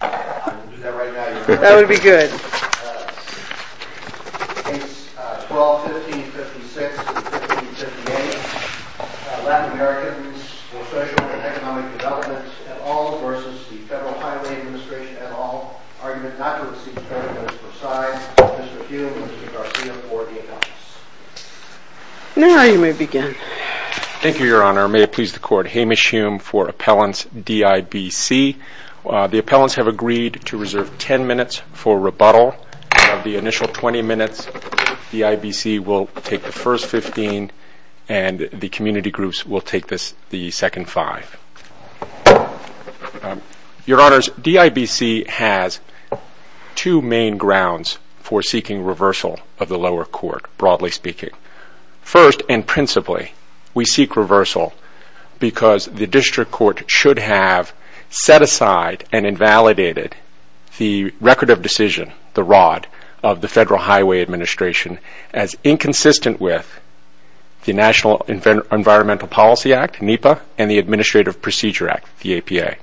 Case 12-15-56, 15-58, Latin Americans for Social and Economic Development et al. v. Federal Highway Administration et al. Argument not to receive an appellant is presided by Mr. Hume, Mr. Garcia, for the appellants. D.I.B.C. has two main grounds for seeking reversal of the lower court, broadly speaking. First, and principally, we seek reversal because the district court should have set aside and invalidated the record of decision, the ROD, of the Federal Highway Administration as inconsistent with the National Environmental Policy Act, NEPA, and the Administrative Procedure Act, the APA.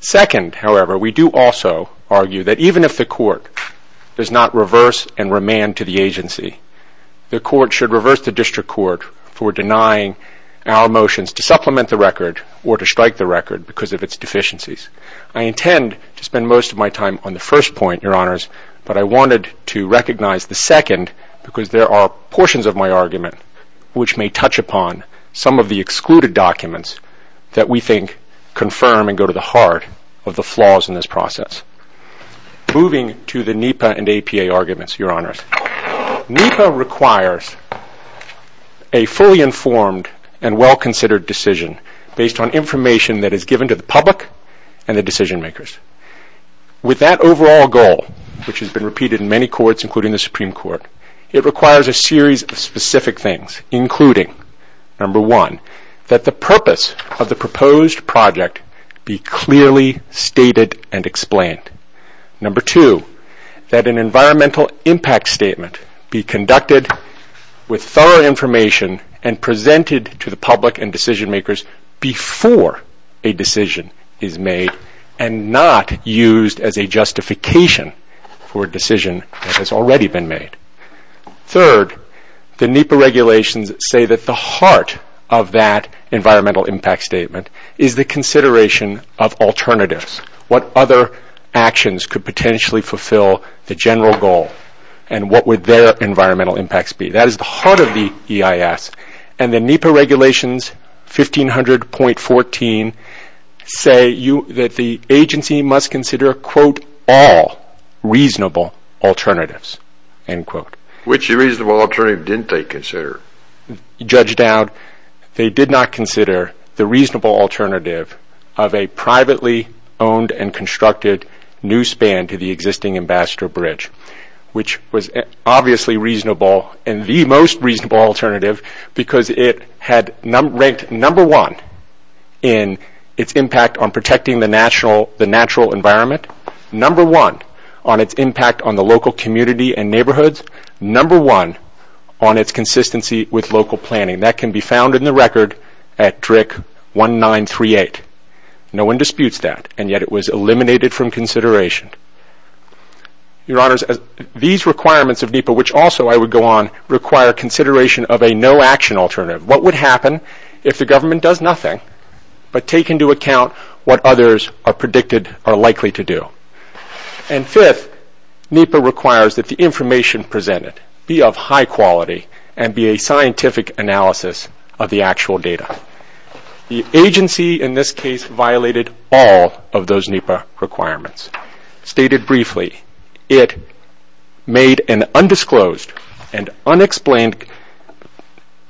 Second, however, we do also argue that even if the court does not reverse and remand to the agency, the court should reverse the district court for denying our motions to supplement the record or to strike the record because of its deficiencies. I intend to spend most of my time on the first point, Your Honors, but I wanted to recognize the second because there are portions of my argument which may touch upon some of the excluded documents that we think confirm and go to the heart of the flaws in this process. Moving to the NEPA and APA arguments, Your Honors. NEPA requires a fully informed and well-considered decision based on information that is given to the public and the decision makers. With that overall goal, which has been repeated in many courts including the Supreme Court, it requires a series of specific things including, number one, that the purpose of the proposed project be clearly stated and explained. Number two, that an environmental impact statement be conducted with thorough information and presented to the public and decision makers before a decision is made and not used as a justification for a decision that has already been made. Third, the NEPA regulations say that the heart of that environmental impact statement is the consideration of alternatives, what other actions could potentially fulfill the general goal and what would their environmental impacts be. That is the heart of the EIS and the NEPA regulations 1500.14 say that the agency must consider, quote, all reasonable alternatives. Which reasonable alternative didn't they consider? Judge Dowd, they did not consider the reasonable alternative of a privately owned and constructed new span to the existing Ambassador Bridge, which was obviously reasonable and the most reasonable alternative because it had ranked number one in its impact on protecting the natural environment, number one on its impact on the local community and neighborhoods, number one on its consistency with local planning. That can be found in the record at DRIC-1938. No one disputes that and yet it was eliminated from consideration. Your Honors, these requirements of NEPA, which also I would go on, require consideration of a no action alternative. What would happen if the government does nothing but take into account what others are predicted are likely to do? And fifth, NEPA requires that the information presented be of high quality and be a scientific analysis of the actual data. The agency in this case violated all of those NEPA requirements. Stated briefly, it made an undisclosed and unexplained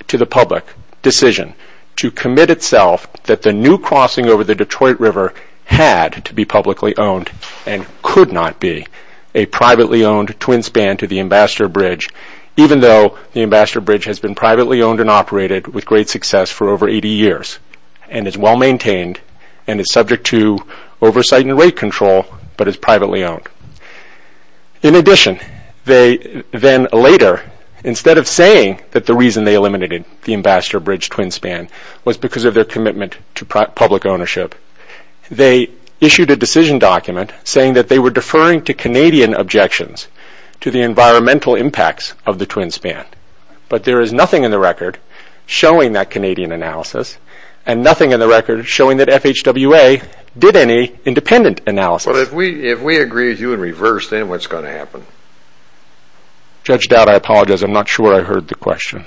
to the public decision to commit itself that the new crossing over the Detroit River had to be publicly owned and could not be a privately owned twin span to the Ambassador Bridge, even though the Ambassador Bridge has been privately owned and operated with great success for over 80 years and is well maintained and is subject to oversight and rate control but is privately owned. In addition, they then later, instead of saying that the reason they eliminated the Ambassador Bridge twin span was because of their commitment to public ownership, they issued a decision document saying that they were deferring to Canadian objections to the environmental impacts of the twin span. But there is nothing in the record showing that Canadian analysis and nothing in the record showing that FHWA did any independent analysis. But if we agree with you and reverse, then what's going to happen? Judge Dowd, I apologize, I'm not sure I heard the question.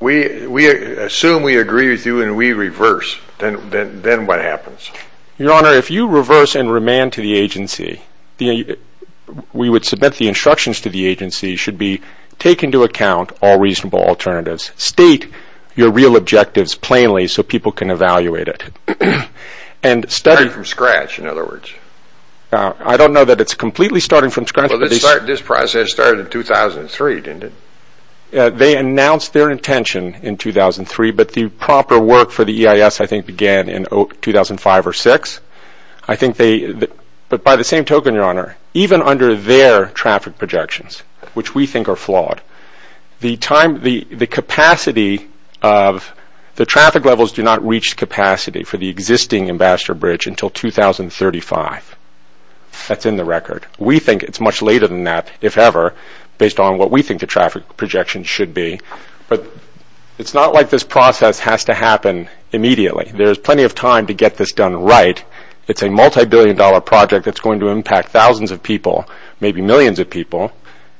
We assume we agree with you and we reverse, then what happens? Your Honor, if you reverse and remand to the agency, we would submit the instructions to the agency should be take into account all reasonable alternatives. State your real objectives plainly so people can evaluate it. Starting from scratch, in other words? I don't know that it's completely starting from scratch. But this process started in 2003, didn't it? They announced their intention in 2003, but the proper work for the EIS I think began in 2005 or 2006. But by the same token, Your Honor, even under their traffic projections, which we think are flawed, the traffic levels do not reach capacity for the existing Ambassador Bridge until 2035. That's in the record. We think it's much later than that, if ever, based on what we think the traffic projections should be. But it's not like this process has to happen immediately. There's plenty of time to get this done right. It's a multibillion dollar project that's going to impact thousands of people, maybe millions of people,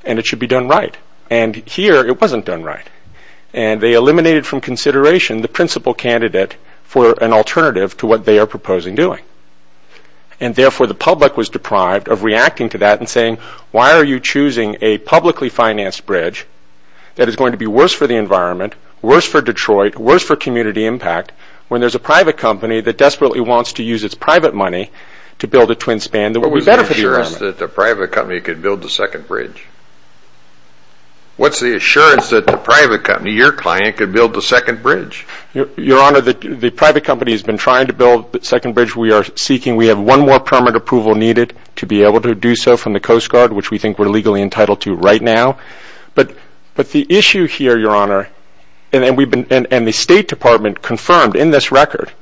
and it should be done right. And here, it wasn't done right. And they eliminated from consideration the principal candidate for an alternative to what they are proposing doing. And therefore, the public was deprived of reacting to that and saying, why are you choosing a publicly financed bridge that is going to be worse for the environment, worse for Detroit, worse for community impact, when there's a private company that desperately wants to use its private money to build a twin span that would be better for the environment? What's the assurance that the private company could build the second bridge? What's the assurance that the private company, your client, could build the second bridge? Your Honor, the private company has been trying to build the second bridge we are seeking. We have one more permit approval needed to be able to do so from the Coast Guard, which we think we're legally entitled to right now. But the issue here, Your Honor, and the State Department confirmed in this record,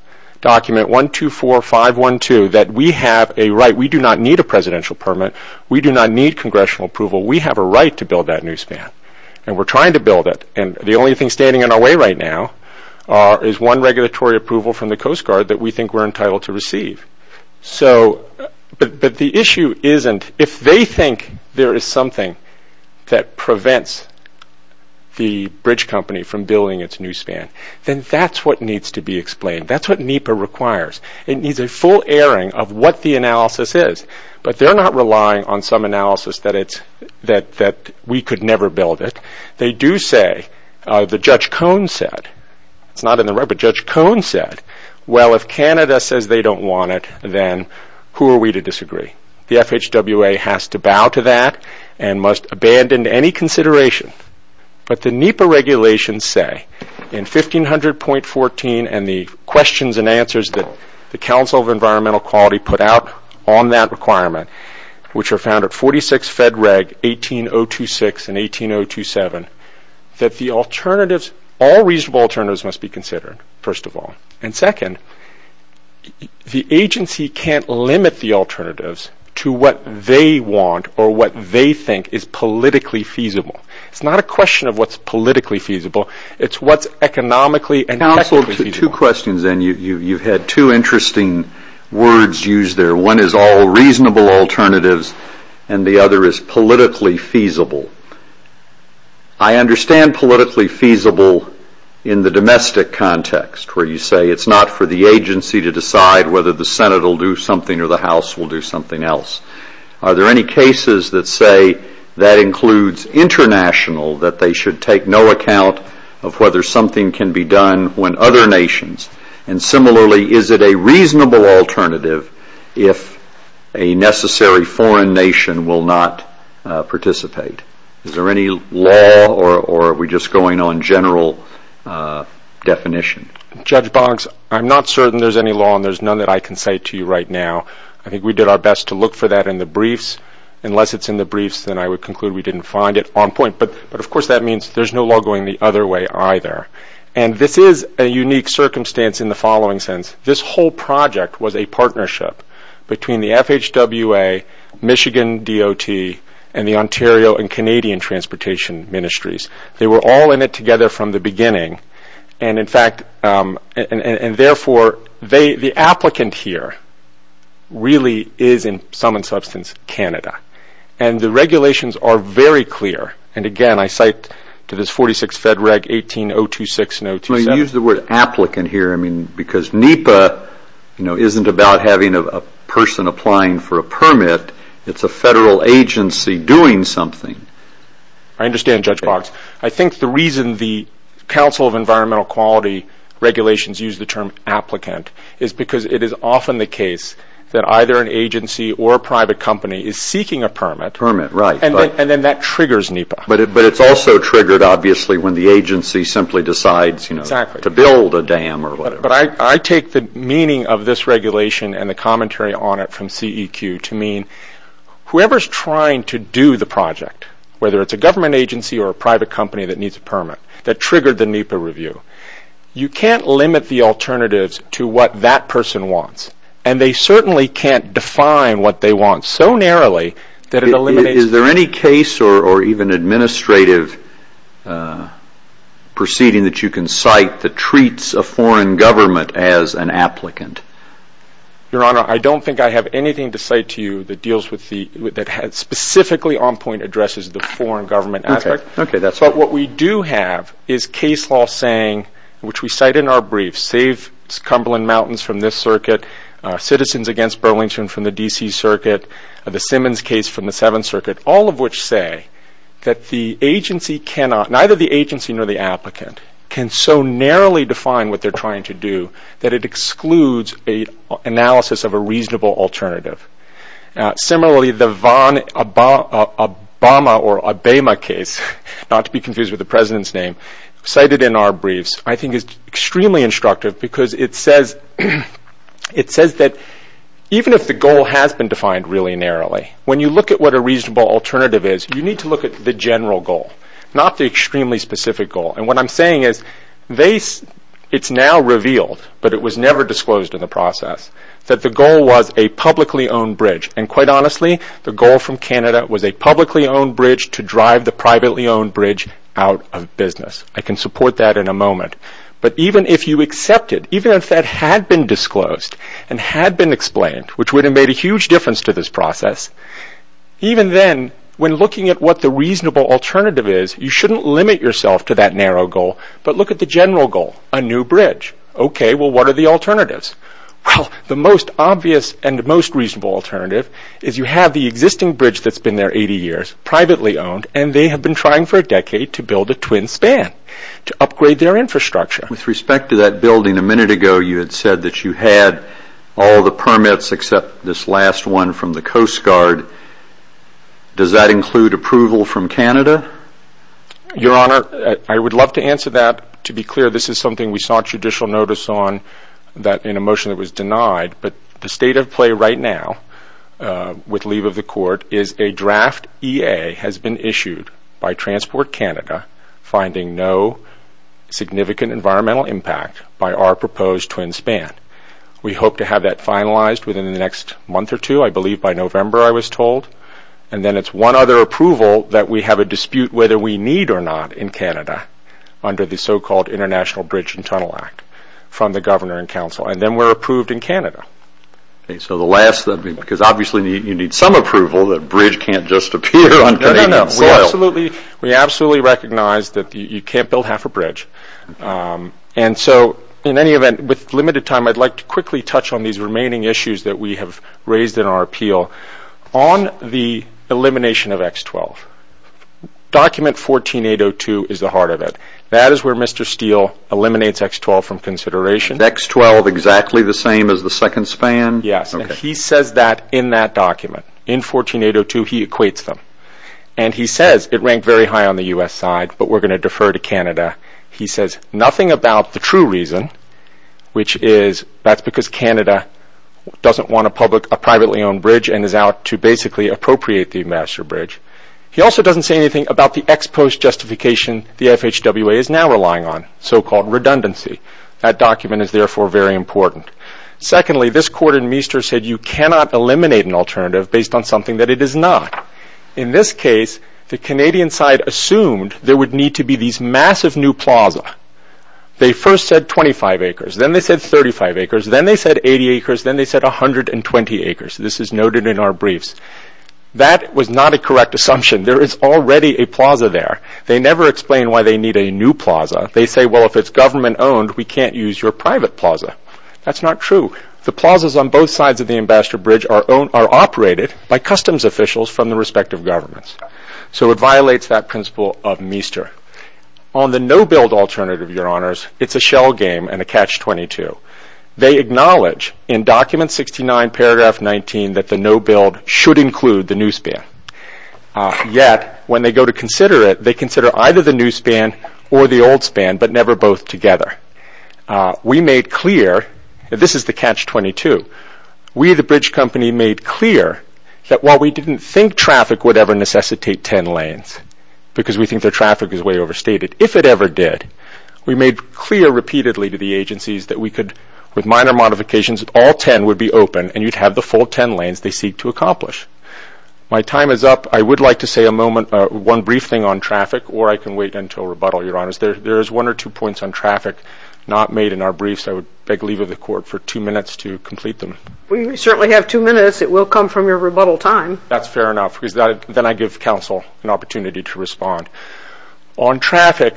document 124512, that we have a right. We do not need a presidential permit. We do not need congressional approval. We have a right to build that new span. And we're trying to build it. And the only thing standing in our way right now is one regulatory approval from the Coast Guard that we think we're entitled to receive. But the issue isn't, if they think there is something that prevents the bridge company from building its new span, then that's what needs to be explained. That's what NEPA requires. It needs a full airing of what the analysis is. But they're not relying on some analysis that we could never build it. They do say, the Judge Cone said, it's not in the record, but Judge Cone said, well, if Canada says they don't want it, then who are we to disagree? The FHWA has to bow to that and must abandon any consideration. But the NEPA regulations say in 1500.14 and the questions and answers that the Council of Environmental Quality put out on that requirement, which are found at 46 Fed Reg 18026 and 18027, that the alternatives, all reasonable alternatives must be considered, first of all. And second, the agency can't limit the alternatives to what they want or what they think is politically feasible. It's not a question of what's politically feasible. It's what's economically and technically feasible. Two questions, then. You've had two interesting words used there. One is all reasonable alternatives, and the other is politically feasible. I understand politically feasible in the domestic context, where you say it's not for the agency to decide whether the Senate will do something or the House will do something else. Are there any cases that say that includes international, that they should take no account of whether something can be done when other nations? And similarly, is it a reasonable alternative if a necessary foreign nation will not participate? Is there any law, or are we just going on general definition? Judge Boggs, I'm not certain there's any law, and there's none that I can say to you right now. I think we did our best to look for that in the briefs. Unless it's in the briefs, then I would conclude we didn't find it on point. But, of course, that means there's no law going the other way either. And this is a unique circumstance in the following sense. This whole project was a partnership between the FHWA, Michigan DOT, and the Ontario and Canadian Transportation Ministries. They were all in it together from the beginning. And, therefore, the applicant here really is, in sum and substance, Canada. And the regulations are very clear. And, again, I cite to this 46 Fed Reg 18026 and 18027. Well, you used the word applicant here. I mean, because NEPA, you know, isn't about having a person applying for a permit. It's a federal agency doing something. I understand, Judge Boggs. I think the reason the Council of Environmental Quality regulations use the term applicant is because it is often the case that either an agency or a private company is seeking a permit. Permit, right. And then that triggers NEPA. But it's also triggered, obviously, when the agency simply decides to build a dam or whatever. But I take the meaning of this regulation and the commentary on it from CEQ to mean that whoever is trying to do the project, whether it's a government agency or a private company that needs a permit, that triggered the NEPA review, you can't limit the alternatives to what that person wants. And they certainly can't define what they want so narrowly that it eliminates... Is there any case or even administrative proceeding that you can cite that treats a foreign government as an applicant? Your Honor, I don't think I have anything to cite to you that deals with the... that specifically on point addresses the foreign government aspect. Okay. But what we do have is case law saying, which we cite in our brief, save Cumberland Mountains from this circuit, citizens against Burlington from the D.C. circuit, the Simmons case from the Seventh Circuit, all of which say that the agency cannot... neither the agency nor the applicant can so narrowly define what they're trying to do that it excludes an analysis of a reasonable alternative. Similarly, the Obama or Abema case, not to be confused with the President's name, cited in our briefs, I think is extremely instructive because it says that even if the goal has been defined really narrowly, when you look at what a reasonable alternative is, you need to look at the general goal, not the extremely specific goal. And what I'm saying is it's now revealed, but it was never disclosed in the process, that the goal was a publicly owned bridge. And quite honestly, the goal from Canada was a publicly owned bridge to drive the privately owned bridge out of business. I can support that in a moment. But even if you accept it, even if that had been disclosed and had been explained, which would have made a huge difference to this process, even then, when looking at what the reasonable alternative is, you shouldn't limit yourself to that narrow goal, but look at the general goal, a new bridge. Okay, well, what are the alternatives? Well, the most obvious and the most reasonable alternative is you have the existing bridge that's been there 80 years, privately owned, and they have been trying for a decade to build a twin span, to upgrade their infrastructure. With respect to that building a minute ago, you had said that you had all the permits except this last one from the Coast Guard. Does that include approval from Canada? Your Honor, I would love to answer that. To be clear, this is something we sought judicial notice on in a motion that was denied. But the state of play right now with leave of the court is a draft EA has been issued by Transport Canada finding no significant environmental impact by our proposed twin span. We hope to have that finalized within the next month or two. I believe by November, I was told. And then it's one other approval that we have a dispute whether we need or not in Canada under the so-called International Bridge and Tunnel Act from the Governor and Council. And then we're approved in Canada. Okay, so the last, because obviously you need some approval that a bridge can't just appear on Canadian soil. No, no, no, we absolutely recognize that you can't build half a bridge. And so in any event, with limited time, I'd like to quickly touch on these remaining issues that we have raised in our appeal on the elimination of X-12. Document 14802 is the heart of it. That is where Mr. Steele eliminates X-12 from consideration. X-12 exactly the same as the second span? Yes, and he says that in that document. In 14802, he equates them. And he says it ranked very high on the U.S. side, but we're going to defer to Canada. He says nothing about the true reason, which is that's because Canada doesn't want a privately owned bridge and is out to basically appropriate the master bridge. He also doesn't say anything about the ex post justification the FHWA is now relying on, so-called redundancy. That document is therefore very important. Secondly, this court in Meester said you cannot eliminate an alternative based on something that it is not. In this case, the Canadian side assumed there would need to be these massive new plaza. They first said 25 acres, then they said 35 acres, then they said 80 acres, then they said 120 acres. This is noted in our briefs. That was not a correct assumption. There is already a plaza there. They never explain why they need a new plaza. They say, well, if it's government owned, we can't use your private plaza. That's not true. The plazas on both sides of the ambassador bridge are operated by customs officials from the respective governments. So it violates that principle of Meester. On the no-build alternative, Your Honours, it's a shell game and a catch-22. They acknowledge in document 69, paragraph 19, that the no-build should include the new span. Yet, when they go to consider it, they consider either the new span or the old span, but never both together. We made clear, and this is the catch-22, we, the bridge company, made clear that while we didn't think traffic would ever necessitate 10 lanes, because we think their traffic is way overstated, if it ever did, we made clear repeatedly to the agencies that we could, with minor modifications, all 10 would be open, and you'd have the full 10 lanes they seek to accomplish. My time is up. I would like to say one brief thing on traffic, or I can wait until rebuttal, Your Honours. There is one or two points on traffic not made in our brief, so I would beg leave of the court for two minutes to complete them. We certainly have two minutes. It will come from your rebuttal time. That's fair enough, because then I give counsel an opportunity to respond. On traffic,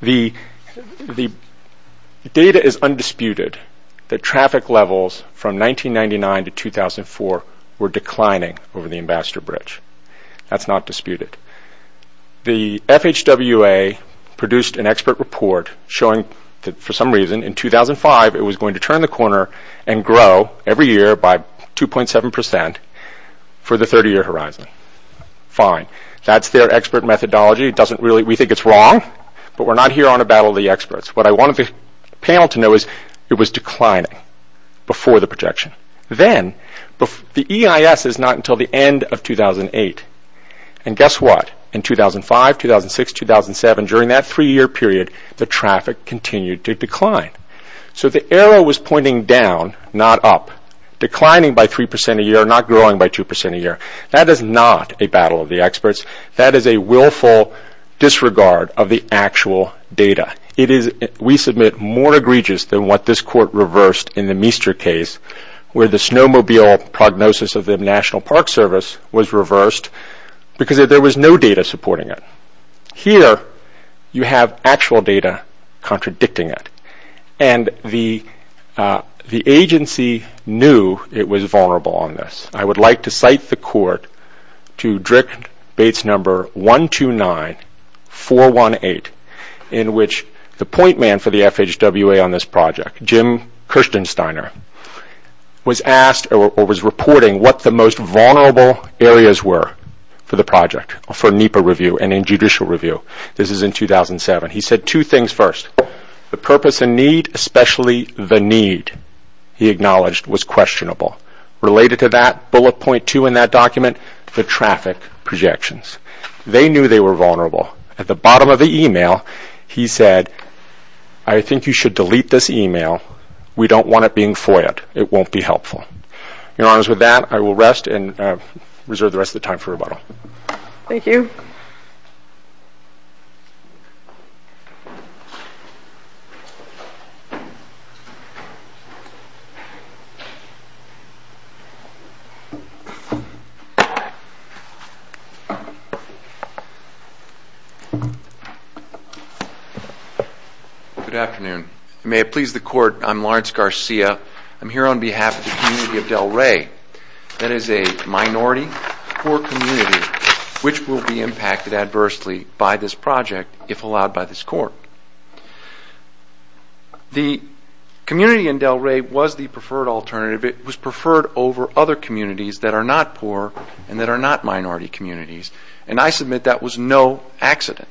the data is undisputed that traffic levels from 1999 to 2004 were declining over the Ambassador Bridge. That's not disputed. The FHWA produced an expert report showing that for some reason in 2005 it was going to turn the corner and grow every year by 2.7% for the 30-year horizon. Fine. That's their expert methodology. We think it's wrong, but we're not here on a battle of the experts. What I wanted the panel to know is it was declining before the projection. Then, the EIS is not until the end of 2008, and guess what? In 2005, 2006, 2007, during that three-year period, the traffic continued to decline. So the arrow was pointing down, not up, declining by 3% a year, not growing by 2% a year. That is not a battle of the experts. That is a willful disregard of the actual data. We submit more egregious than what this Court reversed in the Meester case, where the snowmobile prognosis of the National Park Service was reversed because there was no data supporting it. Here, you have actual data contradicting it. And the agency knew it was vulnerable on this. I would like to cite the Court to Drick Bates No. 129-418, in which the point man for the FHWA on this project, Jim Kirstensteiner, was asked or was reporting what the most vulnerable areas were for the project, for NEPA review and in judicial review. This is in 2007. He said two things first. The purpose and need, especially the need, he acknowledged was questionable. Related to that, bullet point 2 in that document, the traffic projections. They knew they were vulnerable. At the bottom of the email, he said, I think you should delete this email. We don't want it being FOIAed. It won't be helpful. Your Honors, with that, I will rest and reserve the rest of the time for rebuttal. Thank you. Good afternoon. May it please the Court, I'm Lawrence Garcia. I'm here on behalf of the community of Del Rey. That is a minority, poor community, which will be impacted adversely by this project if allowed by this Court. The community in Del Rey was the preferred alternative. It was preferred over other communities that are not poor and that are not minority communities, and I submit that was no accident.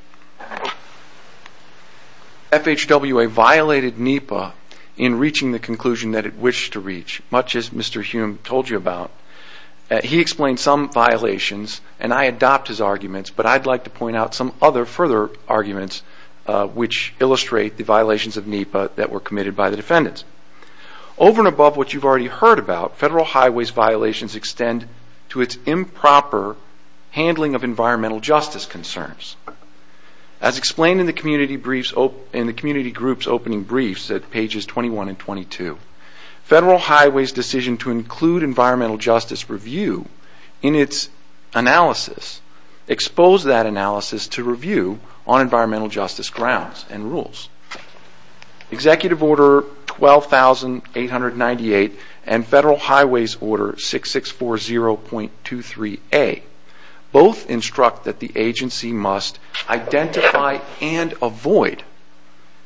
FHWA violated NEPA in reaching the conclusion that it wished to reach, much as Mr. Hume told you about. He explained some violations, and I adopt his arguments, but I'd like to point out some other further arguments which illustrate the violations of NEPA that were committed by the defendants. Over and above what you've already heard about, Federal Highway's violations extend to its improper handling of environmental justice concerns. As explained in the community group's opening briefs at pages 21 and 22, Federal Highway's decision to include environmental justice review in its analysis exposed that analysis to review on environmental justice grounds and rules. Executive Order 12898 and Federal Highway's Order 6640.23a both instruct that the agency must identify and avoid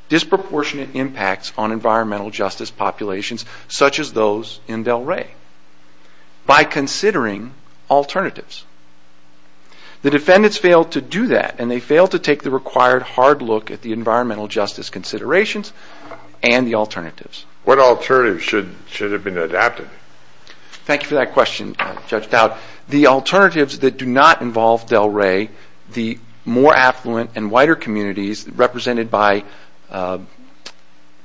disproportionate impacts on environmental justice populations such as those in Del Rey. By considering alternatives. The defendants failed to do that, and they failed to take the required hard look at the environmental justice considerations and the alternatives. What alternatives should have been adapted? Thank you for that question, Judge Dowd. The alternatives that do not involve Del Rey, the more affluent and whiter communities represented by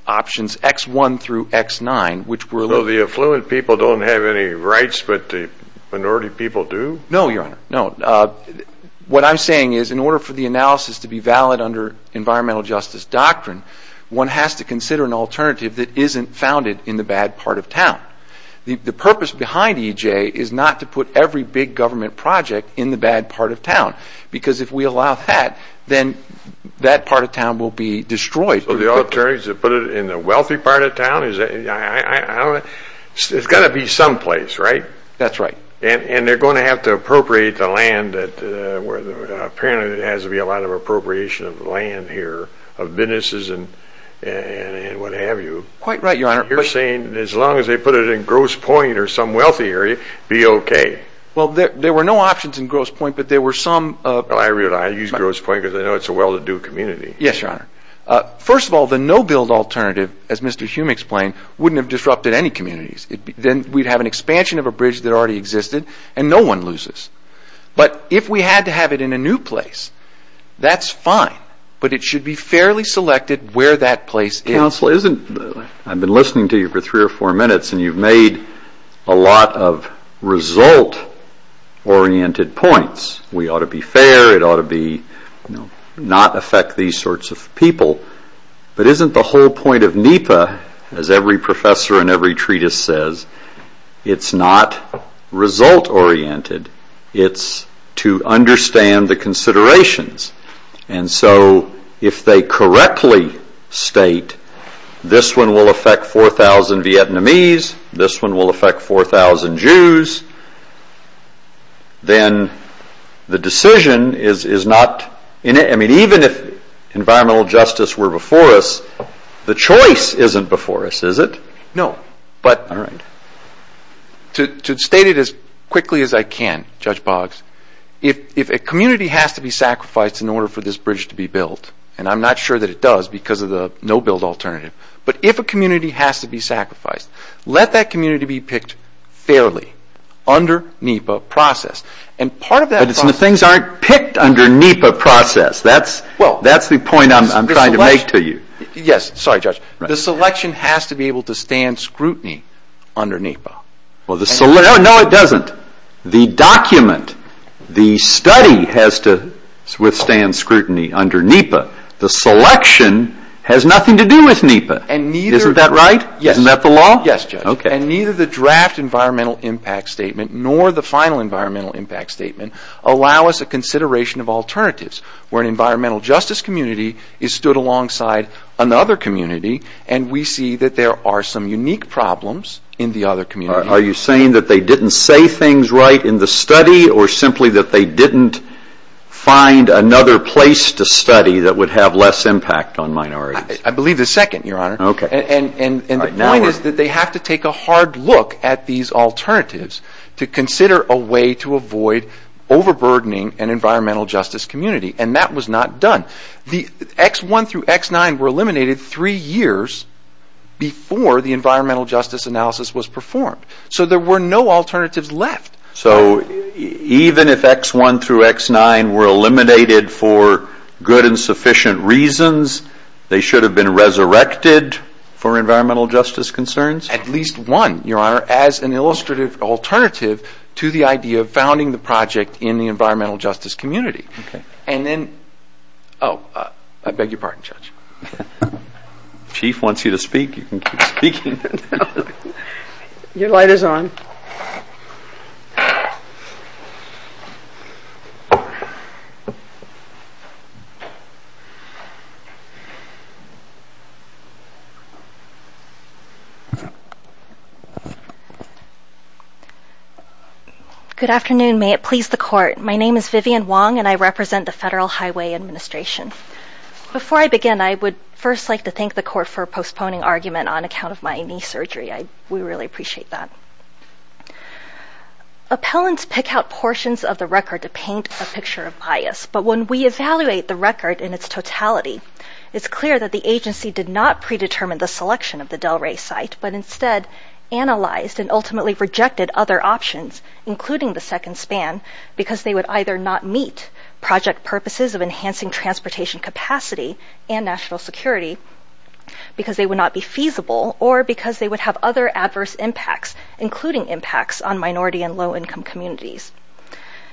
options X1 through X9, So the affluent people don't have any rights, but the minority people do? No, Your Honor, no. What I'm saying is in order for the analysis to be valid under environmental justice doctrine, one has to consider an alternative that isn't founded in the bad part of town. The purpose behind EJ is not to put every big government project in the bad part of town, because if we allow that, then that part of town will be destroyed. So the alternative is to put it in the wealthy part of town? It's got to be someplace, right? That's right. And they're going to have to appropriate the land, apparently there has to be a lot of appropriation of land here, of businesses and what have you. Quite right, Your Honor. You're saying as long as they put it in Grosse Pointe or some wealthy area, be okay? Well, there were no options in Grosse Pointe, but there were some... Well, I use Grosse Pointe because I know it's a well-to-do community. Yes, Your Honor. First of all, the no-build alternative, as Mr. Hume explained, wouldn't have disrupted any communities. Then we'd have an expansion of a bridge that already existed and no one loses. But if we had to have it in a new place, that's fine, but it should be fairly selected where that place is. Counsel, isn't... I've been listening to you for three or four minutes and you've made a lot of result-oriented points. We ought to be fair, it ought to not affect these sorts of people, but isn't the whole point of NEPA, as every professor in every treatise says, it's not result-oriented, it's to understand the considerations. And so if they correctly state this one will affect 4,000 Vietnamese, this one will affect 4,000 Jews, then the decision is not... I mean, even if environmental justice were before us, the choice isn't before us, is it? No, but... All right. To state it as quickly as I can, Judge Boggs, if a community has to be sacrificed in order for this bridge to be built, and I'm not sure that it does because of the no-build alternative, but if a community has to be sacrificed, let that community be picked fairly under NEPA process. And part of that process... That's the point I'm trying to make to you. Yes, sorry, Judge. The selection has to be able to stand scrutiny under NEPA. No, it doesn't. The document, the study, has to withstand scrutiny under NEPA. The selection has nothing to do with NEPA. Isn't that right? Isn't that the law? Yes, Judge. And neither the draft environmental impact statement nor the final environmental impact statement allow us a consideration of alternatives where an environmental justice community is stood alongside another community and we see that there are some unique problems in the other community. Are you saying that they didn't say things right in the study or simply that they didn't find another place to study that would have less impact on minorities? I believe the second, Your Honor. Okay. And the point is that they have to take a hard look at these alternatives to consider a way to avoid overburdening an environmental justice community. And that was not done. The X1 through X9 were eliminated three years before the environmental justice analysis was performed. So there were no alternatives left. So even if X1 through X9 were eliminated for good and sufficient reasons, they should have been resurrected for environmental justice concerns? At least one, Your Honor, as an illustrative alternative to the idea of founding the project in the environmental justice community. Okay. And then... Oh, I beg your pardon, Judge. Chief wants you to speak. You can keep speaking. Your light is on. Good afternoon. May it please the Court. My name is Vivian Wong, and I represent the Federal Highway Administration. Before I begin, I would first like to thank the Court for postponing argument on account of my knee surgery. We really appreciate that. Appellants pick out portions of the record to paint a picture of bias. But when we evaluate the record in its totality, it's clear that the agency did not predetermine the selection of the Delray site, but instead analyzed and ultimately rejected other options, including the second span, because they would either not meet project purposes of enhancing transportation capacity and national security, because they would not be feasible, or because they would have other adverse impacts, including impacts on minority and low-income communities.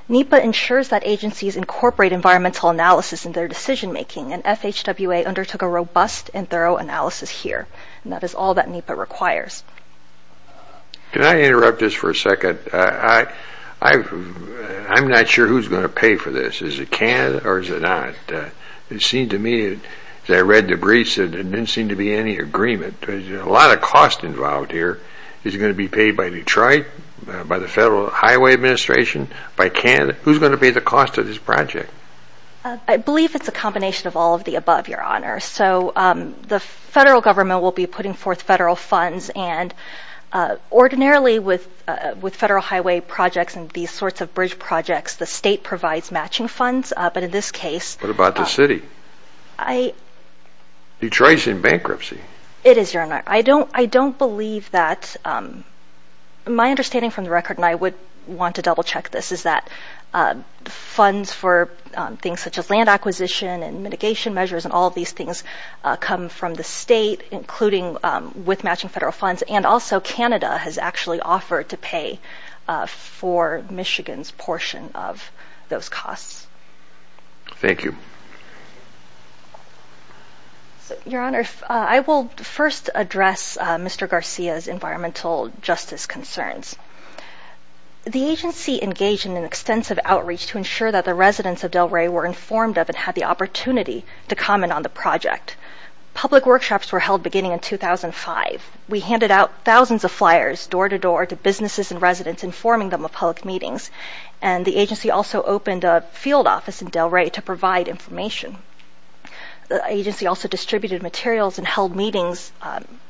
NEPA ensures that agencies incorporate environmental analysis in their decision-making, and FHWA undertook a robust and thorough analysis here. And that is all that NEPA requires. Can I interrupt this for a second? I'm not sure who's going to pay for this. Is it Canada, or is it not? It seemed to me, as I read the briefs, that there didn't seem to be any agreement. There's a lot of cost involved here. Is it going to be paid by Detroit, by the Federal Highway Administration, by Canada? Who's going to pay the cost of this project? I believe it's a combination of all of the above, Your Honor. So the federal government will be putting forth federal funds, and ordinarily with federal highway projects and these sorts of bridge projects, the state provides matching funds. But in this case... What about the city? Detroit's in bankruptcy. It is, Your Honor. I don't believe that... My understanding from the record, and I would want to double-check this, is that funds for things such as land acquisition and mitigation measures and all of these things come from the state, including with matching federal funds, and also Canada has actually offered to pay for Michigan's portion of those costs. Thank you. Your Honor, I will first address Mr. Garcia's environmental justice concerns. The agency engaged in an extensive outreach to ensure that the residents of Delray were informed of and had the opportunity to comment on the project. Public workshops were held beginning in 2005. We handed out thousands of flyers door-to-door to businesses and residents informing them of public meetings, and the agency also opened a field office in Delray to provide information. The agency also distributed materials and held meetings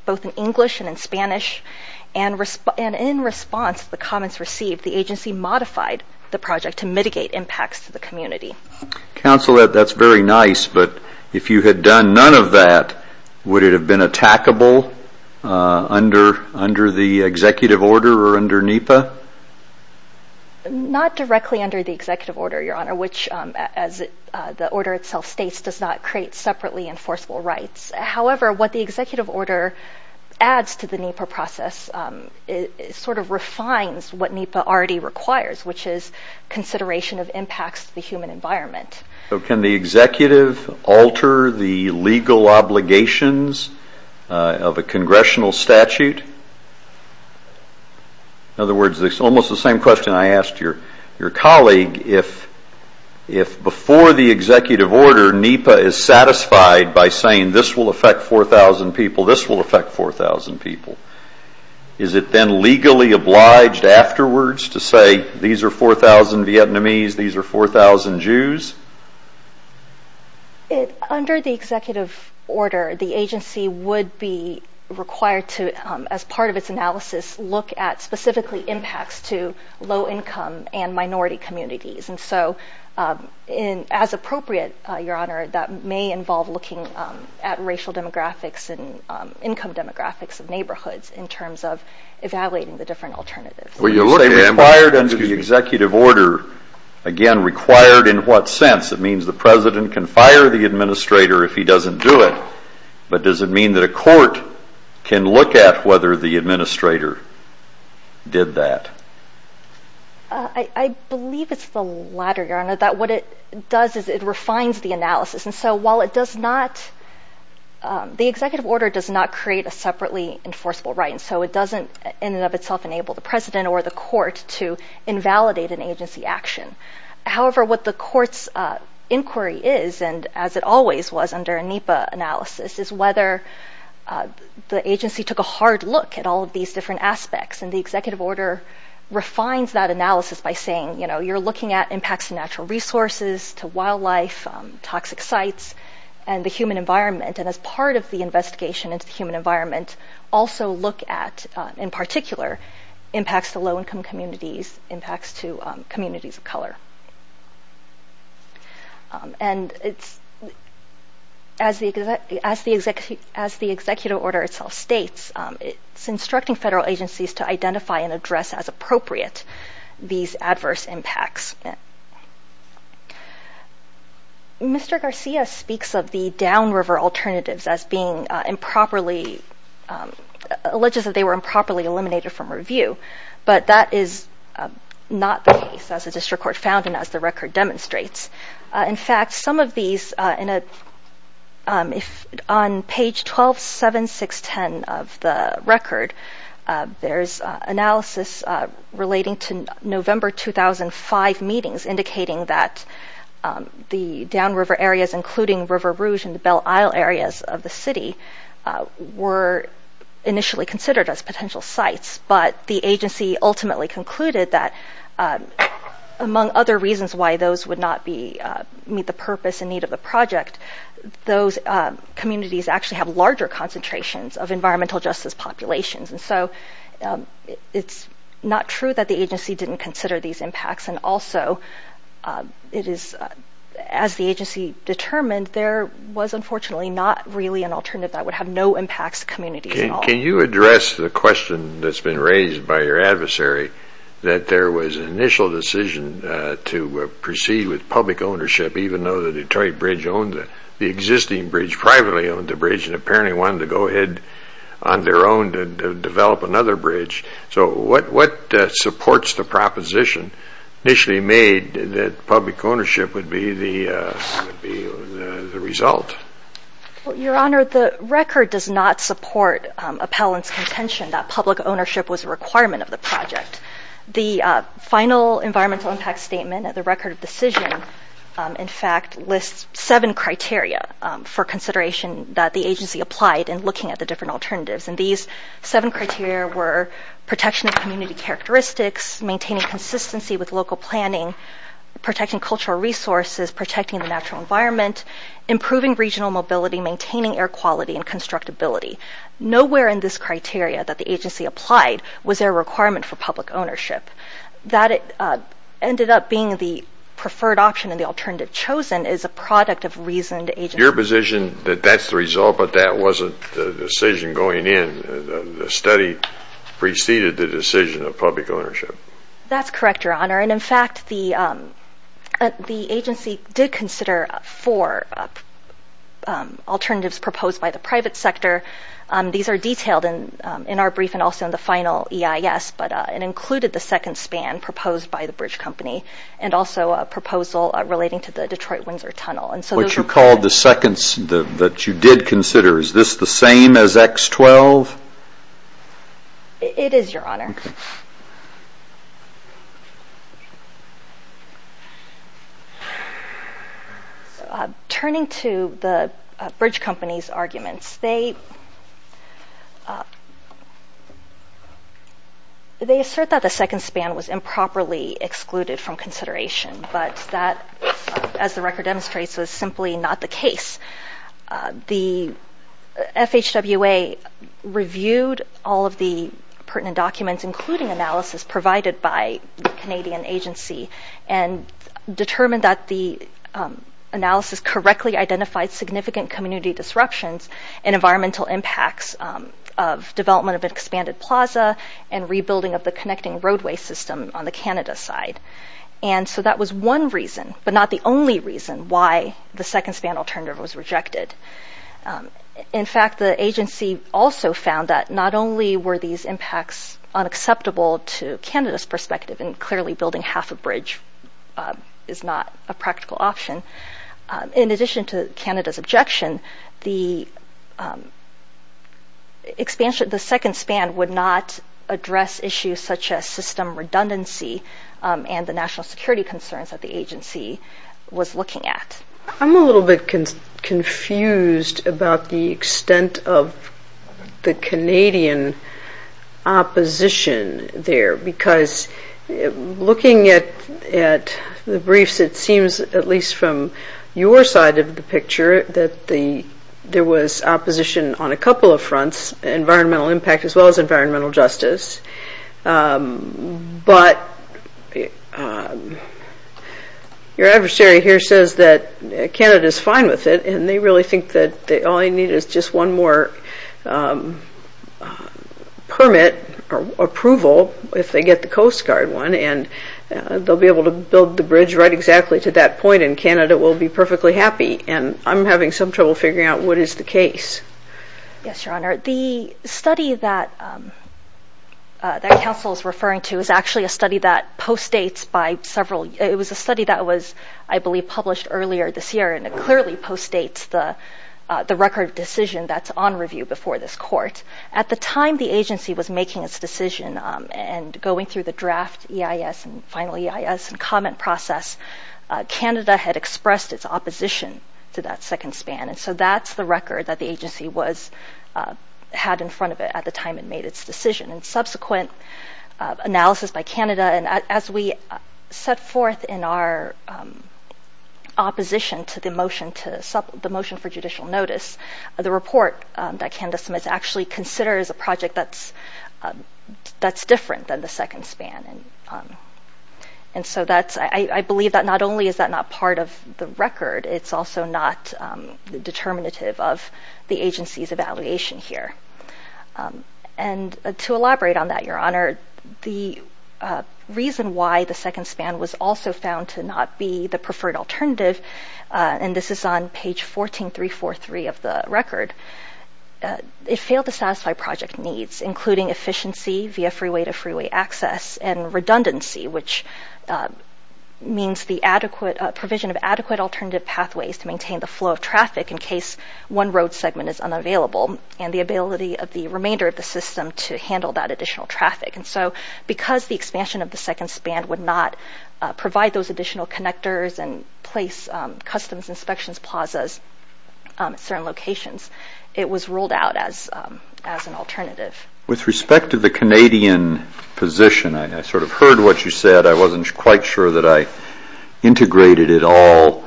both in English and in Spanish, and in response to the comments received, the agency modified the project to mitigate impacts to the community. Counsel, that's very nice, but if you had done none of that, would it have been attackable under the executive order or under NEPA? Not directly under the executive order, Your Honor, which, as the order itself states, does not create separately enforceable rights. However, what the executive order adds to the NEPA process sort of refines what NEPA already requires, which is consideration of impacts to the human environment. So can the executive alter the legal obligations of a congressional statute? In other words, it's almost the same question I asked your colleague. If before the executive order, NEPA is satisfied by saying this will affect 4,000 people, this will affect 4,000 people, is it then legally obliged afterwards to say these are 4,000 Vietnamese, these are 4,000 Jews? Under the executive order, the agency would be required to, as part of its analysis, look at specifically impacts to low-income and minority communities. And so as appropriate, Your Honor, that may involve looking at racial demographics and income demographics of neighborhoods in terms of evaluating the different alternatives. Required under the executive order, again, required in what sense? It means the president can fire the administrator if he doesn't do it, but does it mean that a court can look at whether the administrator did that? I believe it's the latter, Your Honor, that what it does is it refines the analysis. And so while it does not, the executive order does not create a separately enforceable right, and so it doesn't in and of itself enable the president or the court to invalidate an agency action. However, what the court's inquiry is, and as it always was under a NEPA analysis, is whether the agency took a hard look at all of these different aspects. And the executive order refines that analysis by saying, you know, you're looking at impacts to natural resources, to wildlife, toxic sites, and the human environment. And as part of the investigation into the human environment, also look at, in particular, impacts to low-income communities, impacts to communities of color. And it's, as the executive order itself states, it's instructing federal agencies to identify and address as appropriate these adverse impacts. Mr. Garcia speaks of the downriver alternatives as being improperly, alleges that they were improperly eliminated from review, but that is not the case, as the district court found and as the record demonstrates. In fact, some of these, on page 12-7-6-10 of the record, there's analysis relating to November 2005 meetings indicating that the downriver areas, including River Rouge and the Belle Isle areas of the city, were initially considered as potential sites. But the agency ultimately concluded that, among other reasons why those would not meet the purpose and need of the project, those communities actually have larger concentrations of environmental justice populations. And so it's not true that the agency didn't consider these impacts. And also, as the agency determined, there was unfortunately not really an alternative that would have no impacts to communities at all. Can you address the question that's been raised by your adversary that there was an initial decision to proceed with public ownership, even though the Detroit Bridge owned the existing bridge, privately owned the bridge, and apparently wanted to go ahead on their own to develop another bridge. So what supports the proposition initially made that public ownership would be the result? Your Honor, the record does not support Appellant's contention that public ownership was a requirement of the project. The final environmental impact statement at the record of decision, in fact, lists seven criteria for consideration that the agency applied in looking at the different alternatives. And these seven criteria were protection of community characteristics, maintaining consistency with local planning, protecting cultural resources, protecting the natural environment, improving regional mobility, maintaining air quality, and constructability. Nowhere in this criteria that the agency applied was there a requirement for public ownership. That ended up being the preferred option, and the alternative chosen is a product of reasoned agency. Your position that that's the result, but that wasn't the decision going in, the study preceded the decision of public ownership? That's correct, Your Honor. And in fact, the agency did consider four alternatives proposed by the private sector. These are detailed in our brief and also in the final EIS, but it included the second span proposed by the bridge company and also a proposal relating to the Detroit-Windsor Tunnel. What you called the second that you did consider, is this the same as X-12? It is, Your Honor. Turning to the bridge company's arguments, they assert that the second span was improperly excluded from consideration, but that, as the record demonstrates, was simply not the case. The FHWA reviewed all of the pertinent documents, including analysis provided by the Canadian agency, and determined that the analysis correctly identified significant community disruptions and environmental impacts of development of an expanded plaza and rebuilding of the connecting roadway system on the Canada side. And so that was one reason, but not the only reason, why the second span alternative was rejected. In fact, the agency also found that not only were these impacts unacceptable to Canada's perspective, and clearly building half a bridge is not a practical option, in addition to Canada's objection, the expansion of the second span would not address issues such as system redundancy and the national security concerns that the agency was looking at. I'm a little bit confused about the extent of the Canadian opposition there, because looking at the briefs, it seems at least from your side of the picture that there was opposition on a couple of fronts, environmental impact as well as environmental justice. But your adversary here says that Canada is fine with it, and they really think that all they need is just one more permit or approval if they get the Coast Guard one, and they'll be able to build the bridge right exactly to that point, and Canada will be perfectly happy. And I'm having some trouble figuring out what is the case. Yes, Your Honor. The study that counsel is referring to is actually a study that postdates by several – it was a study that was, I believe, published earlier this year, and it clearly postdates the record decision that's on review before this court. At the time the agency was making its decision and going through the draft EIS and final EIS and comment process, Canada had expressed its opposition to that second span, and so that's the record that the agency was – had in front of it at the time it made its decision. And subsequent analysis by Canada, and as we set forth in our opposition to the motion for judicial notice, the report that Canada submits actually considers a project that's different than the second span. And so that's – I believe that not only is that not part of the record, it's also not determinative of the agency's evaluation here. And to elaborate on that, Your Honor, the reason why the second span was also found to not be the preferred alternative, and this is on page 14343 of the record, it failed to satisfy project needs, including efficiency via freeway-to-freeway access and redundancy, which means the adequate – provision of adequate alternative pathways to maintain the flow of traffic in case one road segment is unavailable, and the ability of the remainder of the system to handle that additional traffic. And so because the expansion of the second span would not provide those additional connectors and place customs inspections plazas at certain locations, it was ruled out as an alternative. With respect to the Canadian position, I sort of heard what you said. I wasn't quite sure that I integrated it all.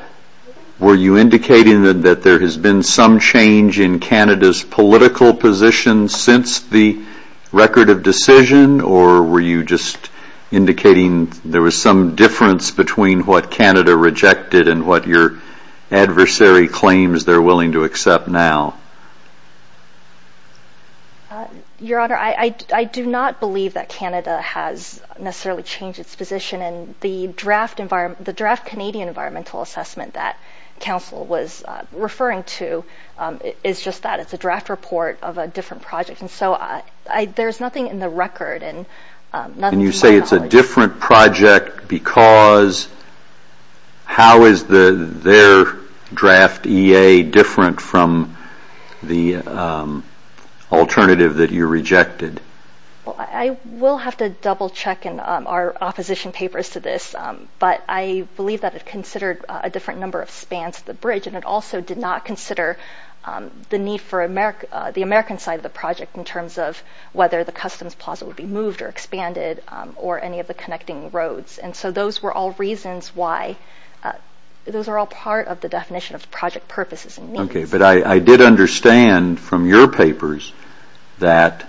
Were you indicating that there has been some change in Canada's political position since the record of decision, or were you just indicating there was some difference between what Canada rejected and what your adversary claims they're willing to accept now? Your Honor, I do not believe that Canada has necessarily changed its position. And the draft Canadian environmental assessment that counsel was referring to is just that it's a draft report of a different project. And so there's nothing in the record. And you say it's a different project because how is their draft EA different from the alternative that you rejected? Well, I will have to double-check in our opposition papers to this, but I believe that it considered a different number of spans at the bridge, and it also did not consider the need for the American side of the project in terms of whether the customs plaza would be moved or expanded or any of the connecting roads. And so those were all reasons why. Those are all part of the definition of project purposes and needs. Okay, but I did understand from your papers that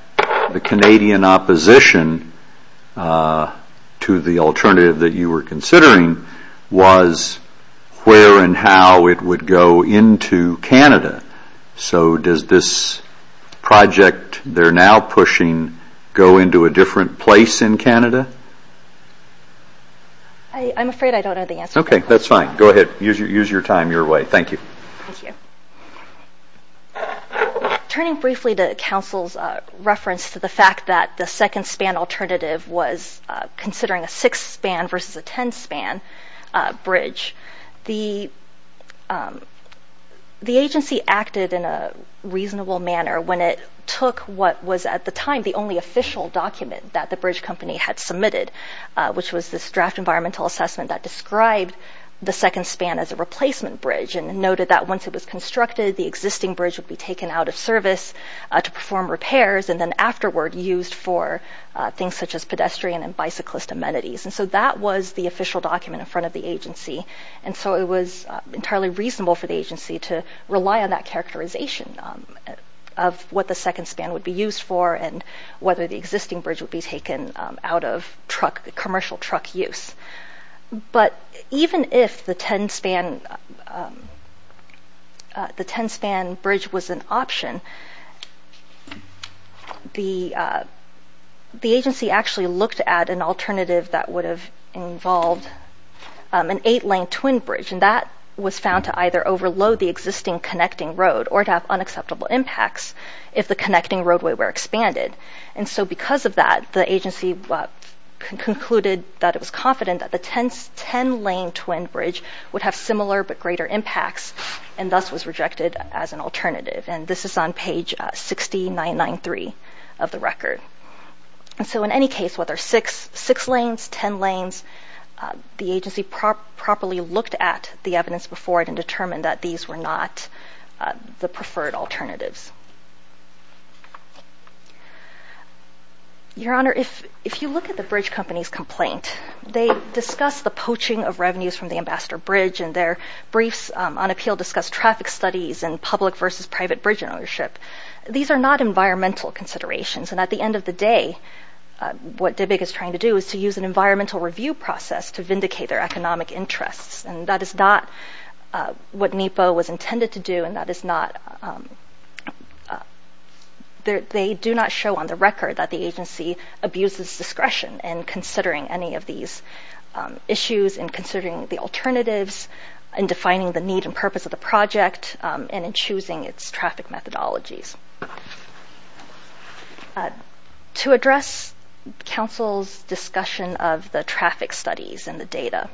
the Canadian opposition to the alternative that you were considering was where and how it would go into Canada. So does this project they're now pushing go into a different place in Canada? I'm afraid I don't have the answer. Okay, that's fine. Go ahead. Use your time your way. Thank you. Thank you. Turning briefly to counsel's reference to the fact that the second span alternative was considering a sixth span versus a tenth span bridge, the agency acted in a reasonable manner when it took what was at the time the only official document that the bridge company had submitted, which was this draft environmental assessment that described the second span as a replacement bridge and noted that once it was constructed, the existing bridge would be taken out of service to perform repairs and then afterward used for things such as pedestrian and bicyclist amenities. And so that was the official document in front of the agency. And so it was entirely reasonable for the agency to rely on that characterization of what the second span would be used for and whether the existing bridge would be taken out of commercial truck use. But even if the tenth span bridge was an option, the agency actually looked at an alternative that would have involved an eight-lane twin bridge, and that was found to either overload the existing connecting road or to have unacceptable impacts if the connecting roadway were expanded. And so because of that, the agency concluded that it was confident that the ten-lane twin bridge would have similar but greater impacts and thus was rejected as an alternative. And this is on page 60993 of the record. And so in any case, whether six lanes, ten lanes, the agency properly looked at the evidence before it and determined that these were not the preferred alternatives. Your Honor, if you look at the bridge company's complaint, they discuss the poaching of revenues from the Ambassador Bridge and their briefs on appeal discuss traffic studies and public versus private bridge ownership. These are not environmental considerations. And at the end of the day, what DBIG is trying to do is to use an environmental review process to vindicate their economic interests. And that is not what NEPA was intended to do, and that is not... They do not show on the record that the agency abuses discretion in considering any of these issues, in considering the alternatives, in defining the need and purpose of the project, and in choosing its traffic methodologies. To address counsel's discussion of the traffic studies and the data,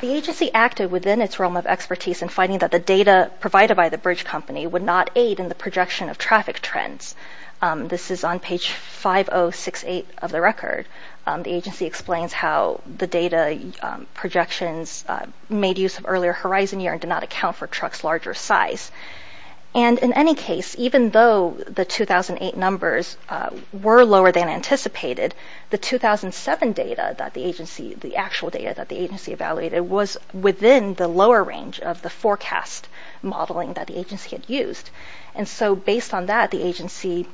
the agency acted within its realm of expertise in finding that the data provided by the bridge company would not aid in the projection of traffic trends. This is on page 5068 of the record. The agency explains how the data projections made use of earlier horizon year and did not account for truck's larger size. And in any case, even though the 2008 numbers were lower than anticipated, the 2007 data that the agency, the actual data that the agency evaluated was within the lower range of the forecast modeling that the agency had used. And so based on that, the agency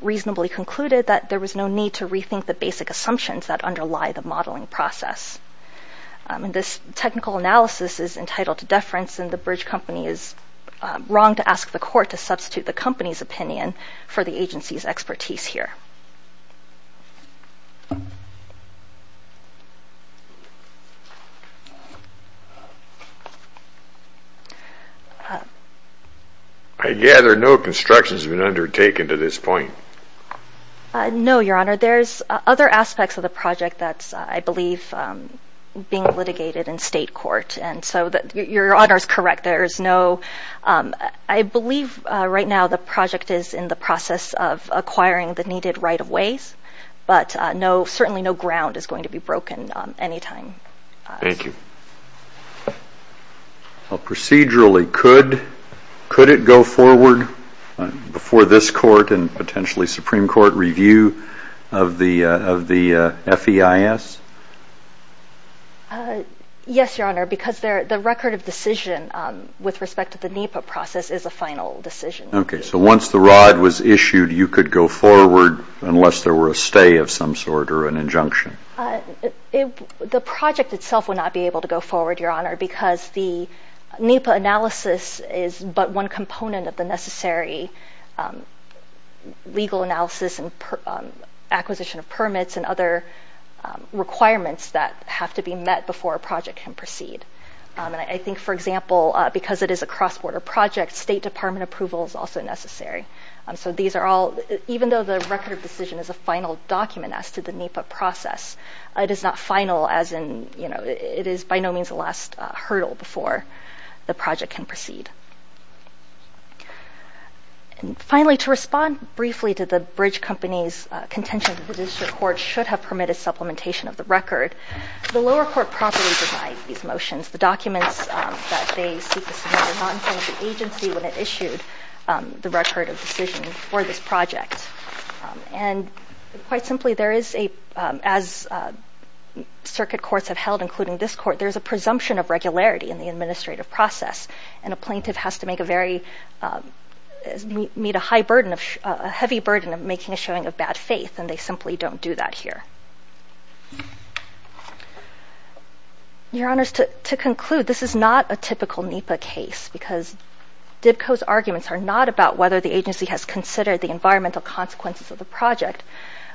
reasonably concluded that there was no need to rethink the basic assumptions that underlie the modeling process. And this technical analysis is entitled to deference, and the bridge company is wrong to ask the court to substitute the company's opinion for the agency's expertise here. I gather no construction has been undertaken to this point. No, Your Honor. There's other aspects of the project that's, I believe, being litigated in state court. Your Honor is correct. I believe right now the project is in the process of acquiring the needed right-of-ways, but certainly no ground is going to be broken any time. Thank you. Procedurally, could it go forward before this court and potentially Supreme Court review of the FEIS? Yes, Your Honor, because the record of decision with respect to the NEPA process is a final decision. Okay. So once the rod was issued, you could go forward unless there were a stay of some sort or an injunction? The project itself would not be able to go forward, Your Honor, because the NEPA analysis is but one component of the necessary legal analysis and acquisition of permits and other requirements that have to be met before a project can proceed. And I think, for example, because it is a cross-border project, State Department approval is also necessary. So these are all, even though the record of decision is a final document as to the NEPA process, it is not final as in, you know, it is by no means the last hurdle before the project can proceed. And finally, to respond briefly to the bridge company's contention that the district court should have permitted supplementation of the record, the lower court promptly denied these motions. The documents that they seek to submit were not in front of the agency when it issued the record of decision for this project. And quite simply, there is a, as circuit courts have held, including this court, there is a presumption of regularity in the administrative process, and a plaintiff has to make a very, meet a high burden of, a heavy burden of making a showing of bad faith, and they simply don't do that here. Your Honors, to conclude, this is not a typical NEPA case because DBCO's arguments are not about whether the agency has considered the environmental consequences of the project,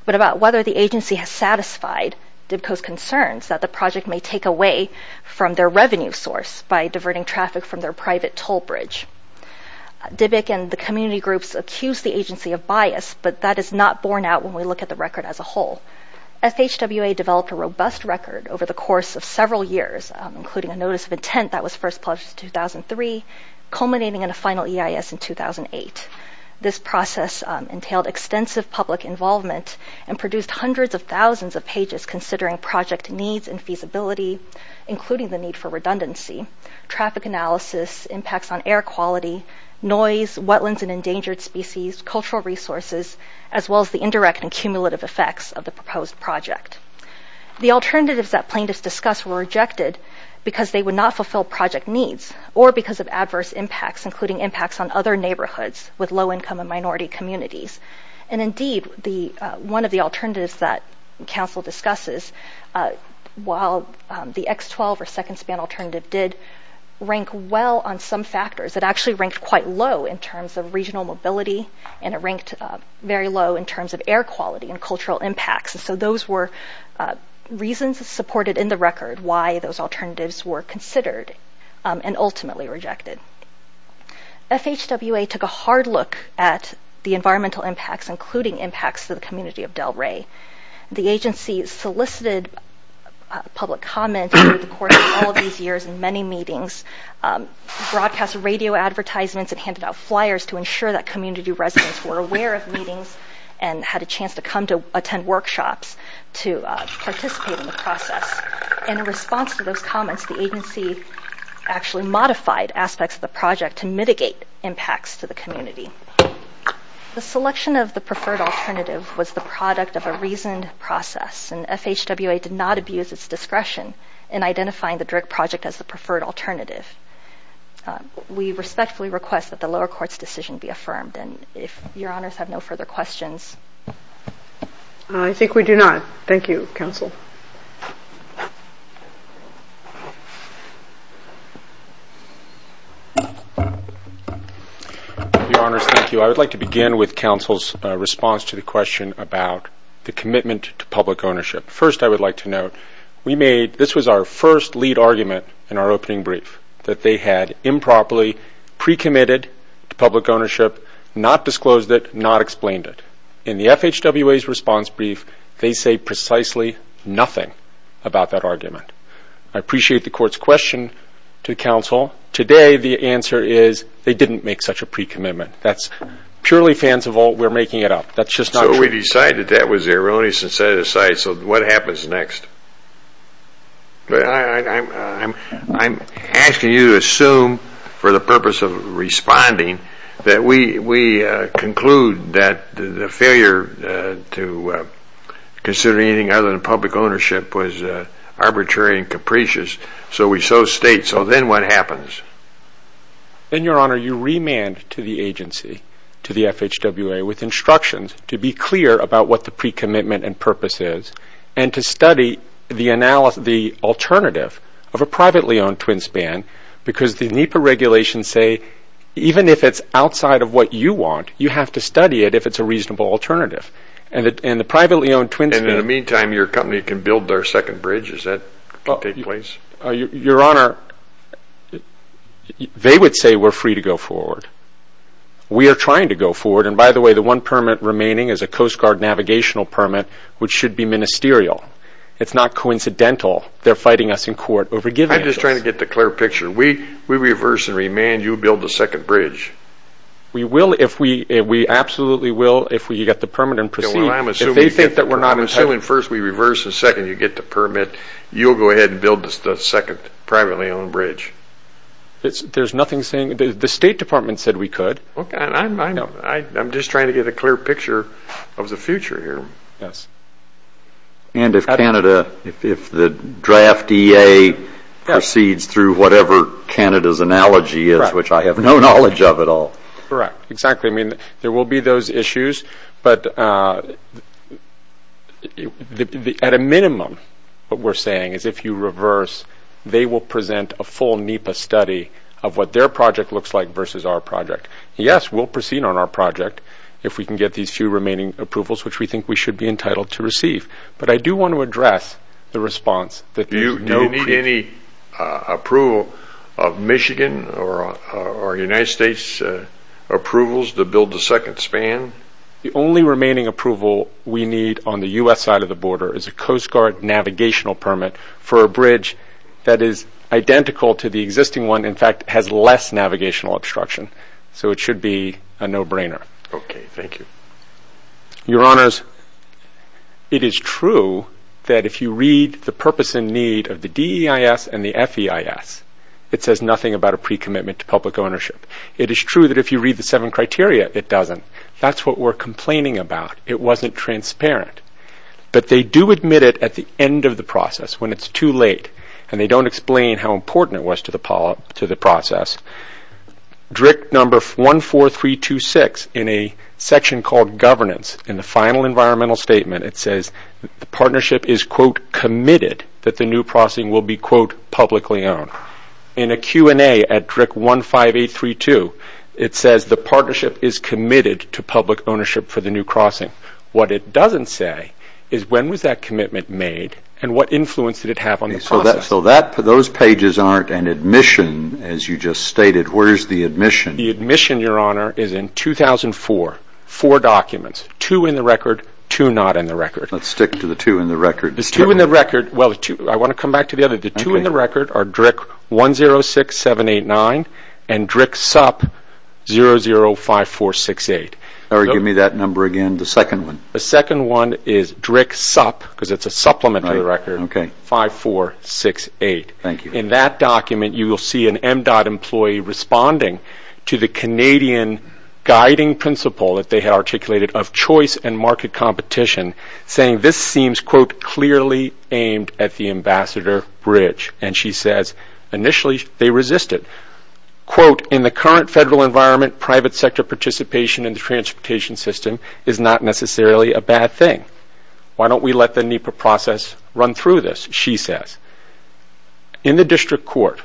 but about whether the agency has satisfied DBCO's concerns that the project may take away from their revenue source by diverting traffic from their private toll bridge. DBIC and the community groups accused the agency of bias, but that is not borne out when we look at the record as a whole. FHWA developed a robust record over the course of several years, including a notice of intent that was first published in 2003, culminating in a final EIS in 2008. This process entailed extensive public involvement and produced hundreds of thousands of pages considering project needs and feasibility, including the need for redundancy, traffic analysis, impacts on air quality, noise, wetlands and endangered species, cultural resources, as well as the indirect and cumulative effects of the proposed project. The alternatives that plaintiffs discussed were rejected because they would not fulfill project needs or because of adverse impacts, including impacts on other neighborhoods with low-income and minority communities. And indeed, one of the alternatives that counsel discusses, while the X-12 or second span alternative did rank well on some factors, it actually ranked quite low in terms of regional mobility and it ranked very low in terms of air quality and cultural impacts. And so those were reasons supported in the record why those alternatives were considered and ultimately rejected. FHWA took a hard look at the environmental impacts, including impacts to the community of Delray. The agency solicited public comment over the course of all of these years in many meetings, broadcast radio advertisements, and handed out flyers to ensure that community residents were aware of meetings and had a chance to come to attend workshops to participate in the process. In response to those comments, the agency actually modified aspects of the project to mitigate impacts to the community. The selection of the preferred alternative was the product of a reasoned process, and FHWA did not abuse its discretion in identifying the DRIC project as the preferred alternative. We respectfully request that the lower court's decision be affirmed and if Your Honors have no further questions. I think we do not. Thank you, counsel. Your Honors, thank you. I would like to begin with counsel's response to the question about the commitment to public ownership. First, I would like to note, this was our first lead argument in our opening brief, that they had improperly pre-committed to public ownership, not disclosed it, not explained it. In the FHWA's response brief, they say precisely nothing about that argument. I appreciate the court's question to counsel. Today, the answer is they didn't make such a pre-commitment. That's purely fanciful. We're making it up. So we decided that was erroneous and set it aside. So what happens next? I'm asking you to assume, for the purpose of responding, that we conclude that the failure to consider anything other than public ownership was arbitrary and capricious, so we so state. So then what happens? Then, Your Honor, you remand to the agency, to the FHWA, with instructions to be clear about what the pre-commitment and purpose is and to study the alternative of a privately-owned twin span because the NEPA regulations say even if it's outside of what you want, you have to study it if it's a reasonable alternative. And the privately-owned twin span... And in the meantime, your company can build their second bridge. Does that take place? Your Honor, they would say we're free to go forward. We are trying to go forward. And by the way, the one permit remaining is a Coast Guard navigational permit which should be ministerial. It's not coincidental they're fighting us in court over giving it to us. I'm just trying to get the clear picture. We reverse and remand, you build the second bridge. We absolutely will if we get the permit and proceed. If they think that we're not entitled... I'm assuming first we reverse and second you get the permit, you'll go ahead and build the second privately-owned bridge. There's nothing saying... The State Department said we could. I'm just trying to get a clear picture of the future here. And if Canada, if the draft EA proceeds through whatever Canada's analogy is, which I have no knowledge of at all. Correct. Exactly. I mean, there will be those issues. But at a minimum, what we're saying is if you reverse, they will present a full NEPA study of what their project looks like versus our project. Yes, we'll proceed on our project if we can get these few remaining approvals, which we think we should be entitled to receive. But I do want to address the response that there's no... Do you need any approval of Michigan or United States approvals to build the second span? The only remaining approval we need on the U.S. side of the border is a Coast Guard navigational permit for a bridge that is identical to the existing one, in fact, has less navigational obstruction. So it should be a no-brainer. Okay. Thank you. Your Honours, it is true that if you read the purpose and need of the DEIS and the FEIS, it says nothing about a pre-commitment to public ownership. It is true that if you read the seven criteria, it doesn't. That's what we're complaining about. It wasn't transparent. But they do admit it at the end of the process, when it's too late, and they don't explain how important it was to the process. DRIC number 14326, in a section called Governance, in the final environmental statement, it says the partnership is, quote, committed that the new crossing will be, quote, publicly owned. In a Q&A at DRIC 15832, it says the partnership is committed to public ownership for the new crossing. What it doesn't say is when was that commitment made and what influence did it have on the process. So those pages aren't an admission, as you just stated. Where is the admission? The admission, Your Honour, is in 2004. Four documents, two in the record, two not in the record. Let's stick to the two in the record. The two in the record, well, I want to come back to the other. The two in the record are DRIC 106789 and DRIC sup 005468. Give me that number again, the second one. The second one is DRIC sup, because it's a supplement to the record, 005468. In that document, you will see an MDOT employee responding to the Canadian guiding principle that they had articulated of choice and market competition, saying this seems, quote, clearly aimed at the Ambassador Bridge. And she says initially they resisted. Quote, in the current federal environment, private sector participation in the transportation system is not necessarily a bad thing. Why don't we let the NEPA process run through this, she says. In the district court,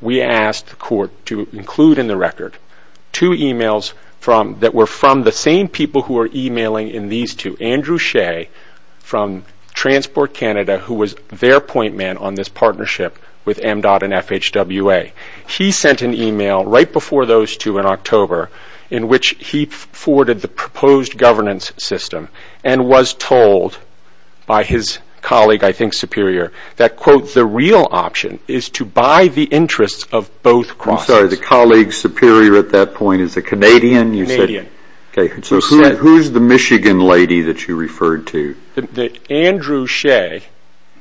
we asked the court to include in the record two emails that were from the same people who are emailing in these two, Andrew Shea from Transport Canada, who was their point man on this partnership with MDOT and FHWA. He sent an email right before those two in October, in which he forwarded the proposed governance system and was told by his colleague, I think, superior, that, quote, the real option is to buy the interests of both crosses. I'm sorry, the colleague superior at that point is a Canadian? Canadian. Okay, so who's the Michigan lady that you referred to? Andrew Shea.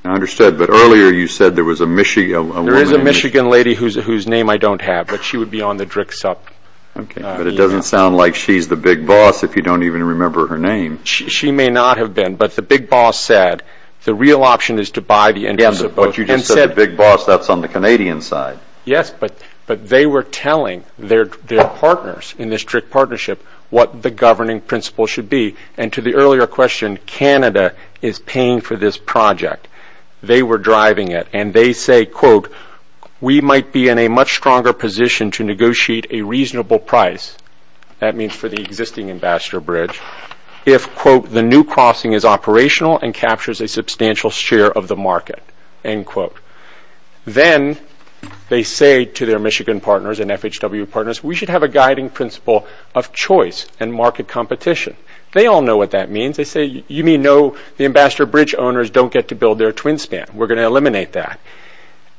I understood, but earlier you said there was a Michigan woman. There is a Michigan lady whose name I don't have, but she would be on the DRIC sub. Okay, but it doesn't sound like she's the big boss if you don't even remember her name. She may not have been, but the big boss said the real option is to buy the interests of both. But you just said the big boss, that's on the Canadian side. Yes, but they were telling their partners in this DRIC partnership what the governing principle should be, and to the earlier question, Canada is paying for this project. They were driving it, and they say, quote, we might be in a much stronger position to negotiate a reasonable price, that means for the existing Ambassador Bridge, if, quote, the new crossing is operational and captures a substantial share of the market, end quote. Then they say to their Michigan partners and FHW partners, we should have a guiding principle of choice and market competition. They all know what that means. They say, you may know the Ambassador Bridge owners don't get to build their twin stand. We're going to eliminate that.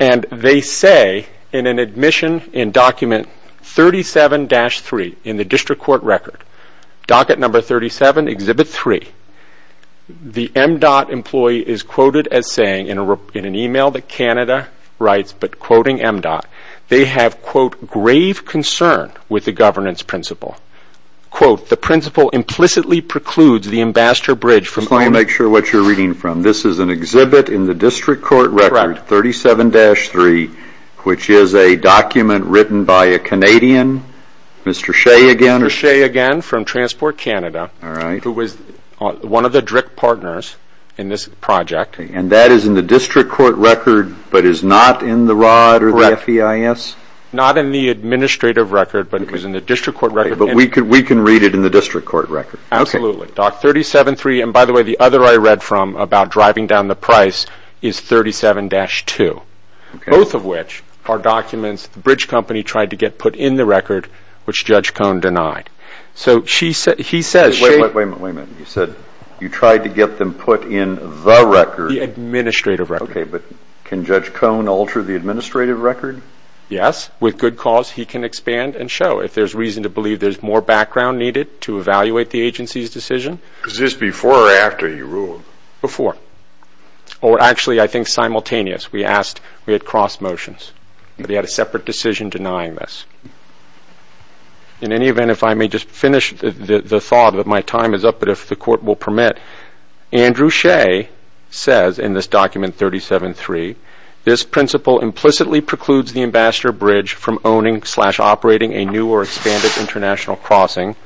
And they say in an admission in document 37-3 in the District Court record, docket number 37, Exhibit 3, the MDOT employee is quoted as saying in an email that Canada writes, but quoting MDOT, they have, quote, grave concern with the governance principle. Quote, the principle implicitly precludes the Ambassador Bridge. Just let me make sure what you're reading from. This is an exhibit in the District Court record, 37-3, which is a document written by a Canadian, Mr. Shea again? Mr. Shea again from Transport Canada, who was one of the DRIC partners in this project. And that is in the District Court record, but is not in the ROD or the FEIS? Not in the administrative record, but it was in the District Court record. But we can read it in the District Court record. Absolutely. Doc 37-3, and by the way, the other I read from about driving down the price is 37-2, both of which are documents the Bridge Company tried to get put in the record, which Judge Cohn denied. So he says she – Wait a minute, wait a minute. You said you tried to get them put in the record? The administrative record. Okay, but can Judge Cohn alter the administrative record? Yes. With good cause, he can expand and show. If there's reason to believe there's more background needed to evaluate the agency's decision. Was this before or after he ruled? Before. Or actually, I think, simultaneous. We asked – we had cross motions. But he had a separate decision denying this. In any event, if I may just finish the thought that my time is up, but if the Court will permit, Andrew Shea says in this document 37-3, this principle implicitly precludes the Ambassador Bridge from owning slash operating a new or expanded international crossing.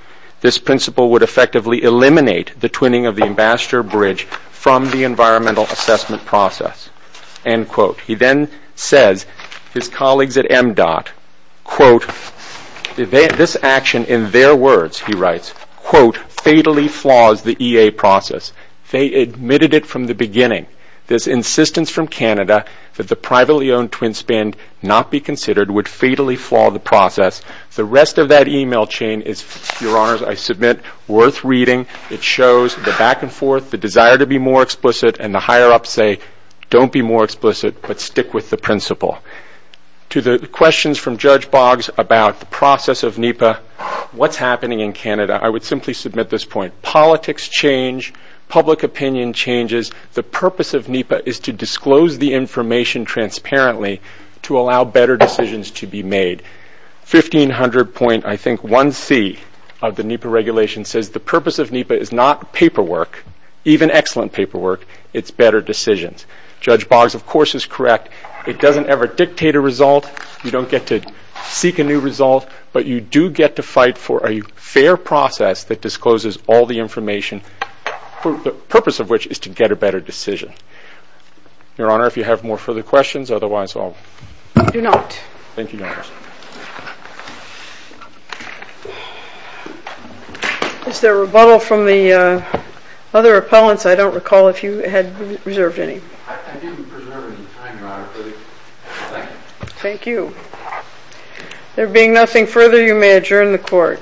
This principle would effectively eliminate the twinning of the Ambassador Bridge from the environmental assessment process. End quote. He then says his colleagues at MDOT, quote, This action, in their words, he writes, quote, fatally flaws the EA process. They admitted it from the beginning. This insistence from Canada that the privately owned twin spend not be considered would fatally flaw the process. The rest of that email chain is, Your Honors, I submit, worth reading. It shows the back and forth, the desire to be more explicit, and the higher ups say, don't be more explicit, but stick with the principle. To the questions from Judge Boggs about the process of NEPA, what's happening in Canada? I would simply submit this point. Politics change. Public opinion changes. The purpose of NEPA is to disclose the information transparently to allow better decisions to be made. 1500 point, I think, 1C of the NEPA regulation says the purpose of NEPA is not paperwork, even excellent paperwork, it's better decisions. Judge Boggs, of course, is correct. It doesn't ever dictate a result. You don't get to seek a new result, but you do get to fight for a fair process that discloses all the information, the purpose of which is to get a better decision. Your Honor, if you have more further questions, otherwise I'll. I do not. Thank you, Your Honors. Is there rebuttal from the other appellants? I don't recall if you had reserved any. I didn't reserve any time, Your Honor. Thank you. Thank you. There being nothing further, you may adjourn the court.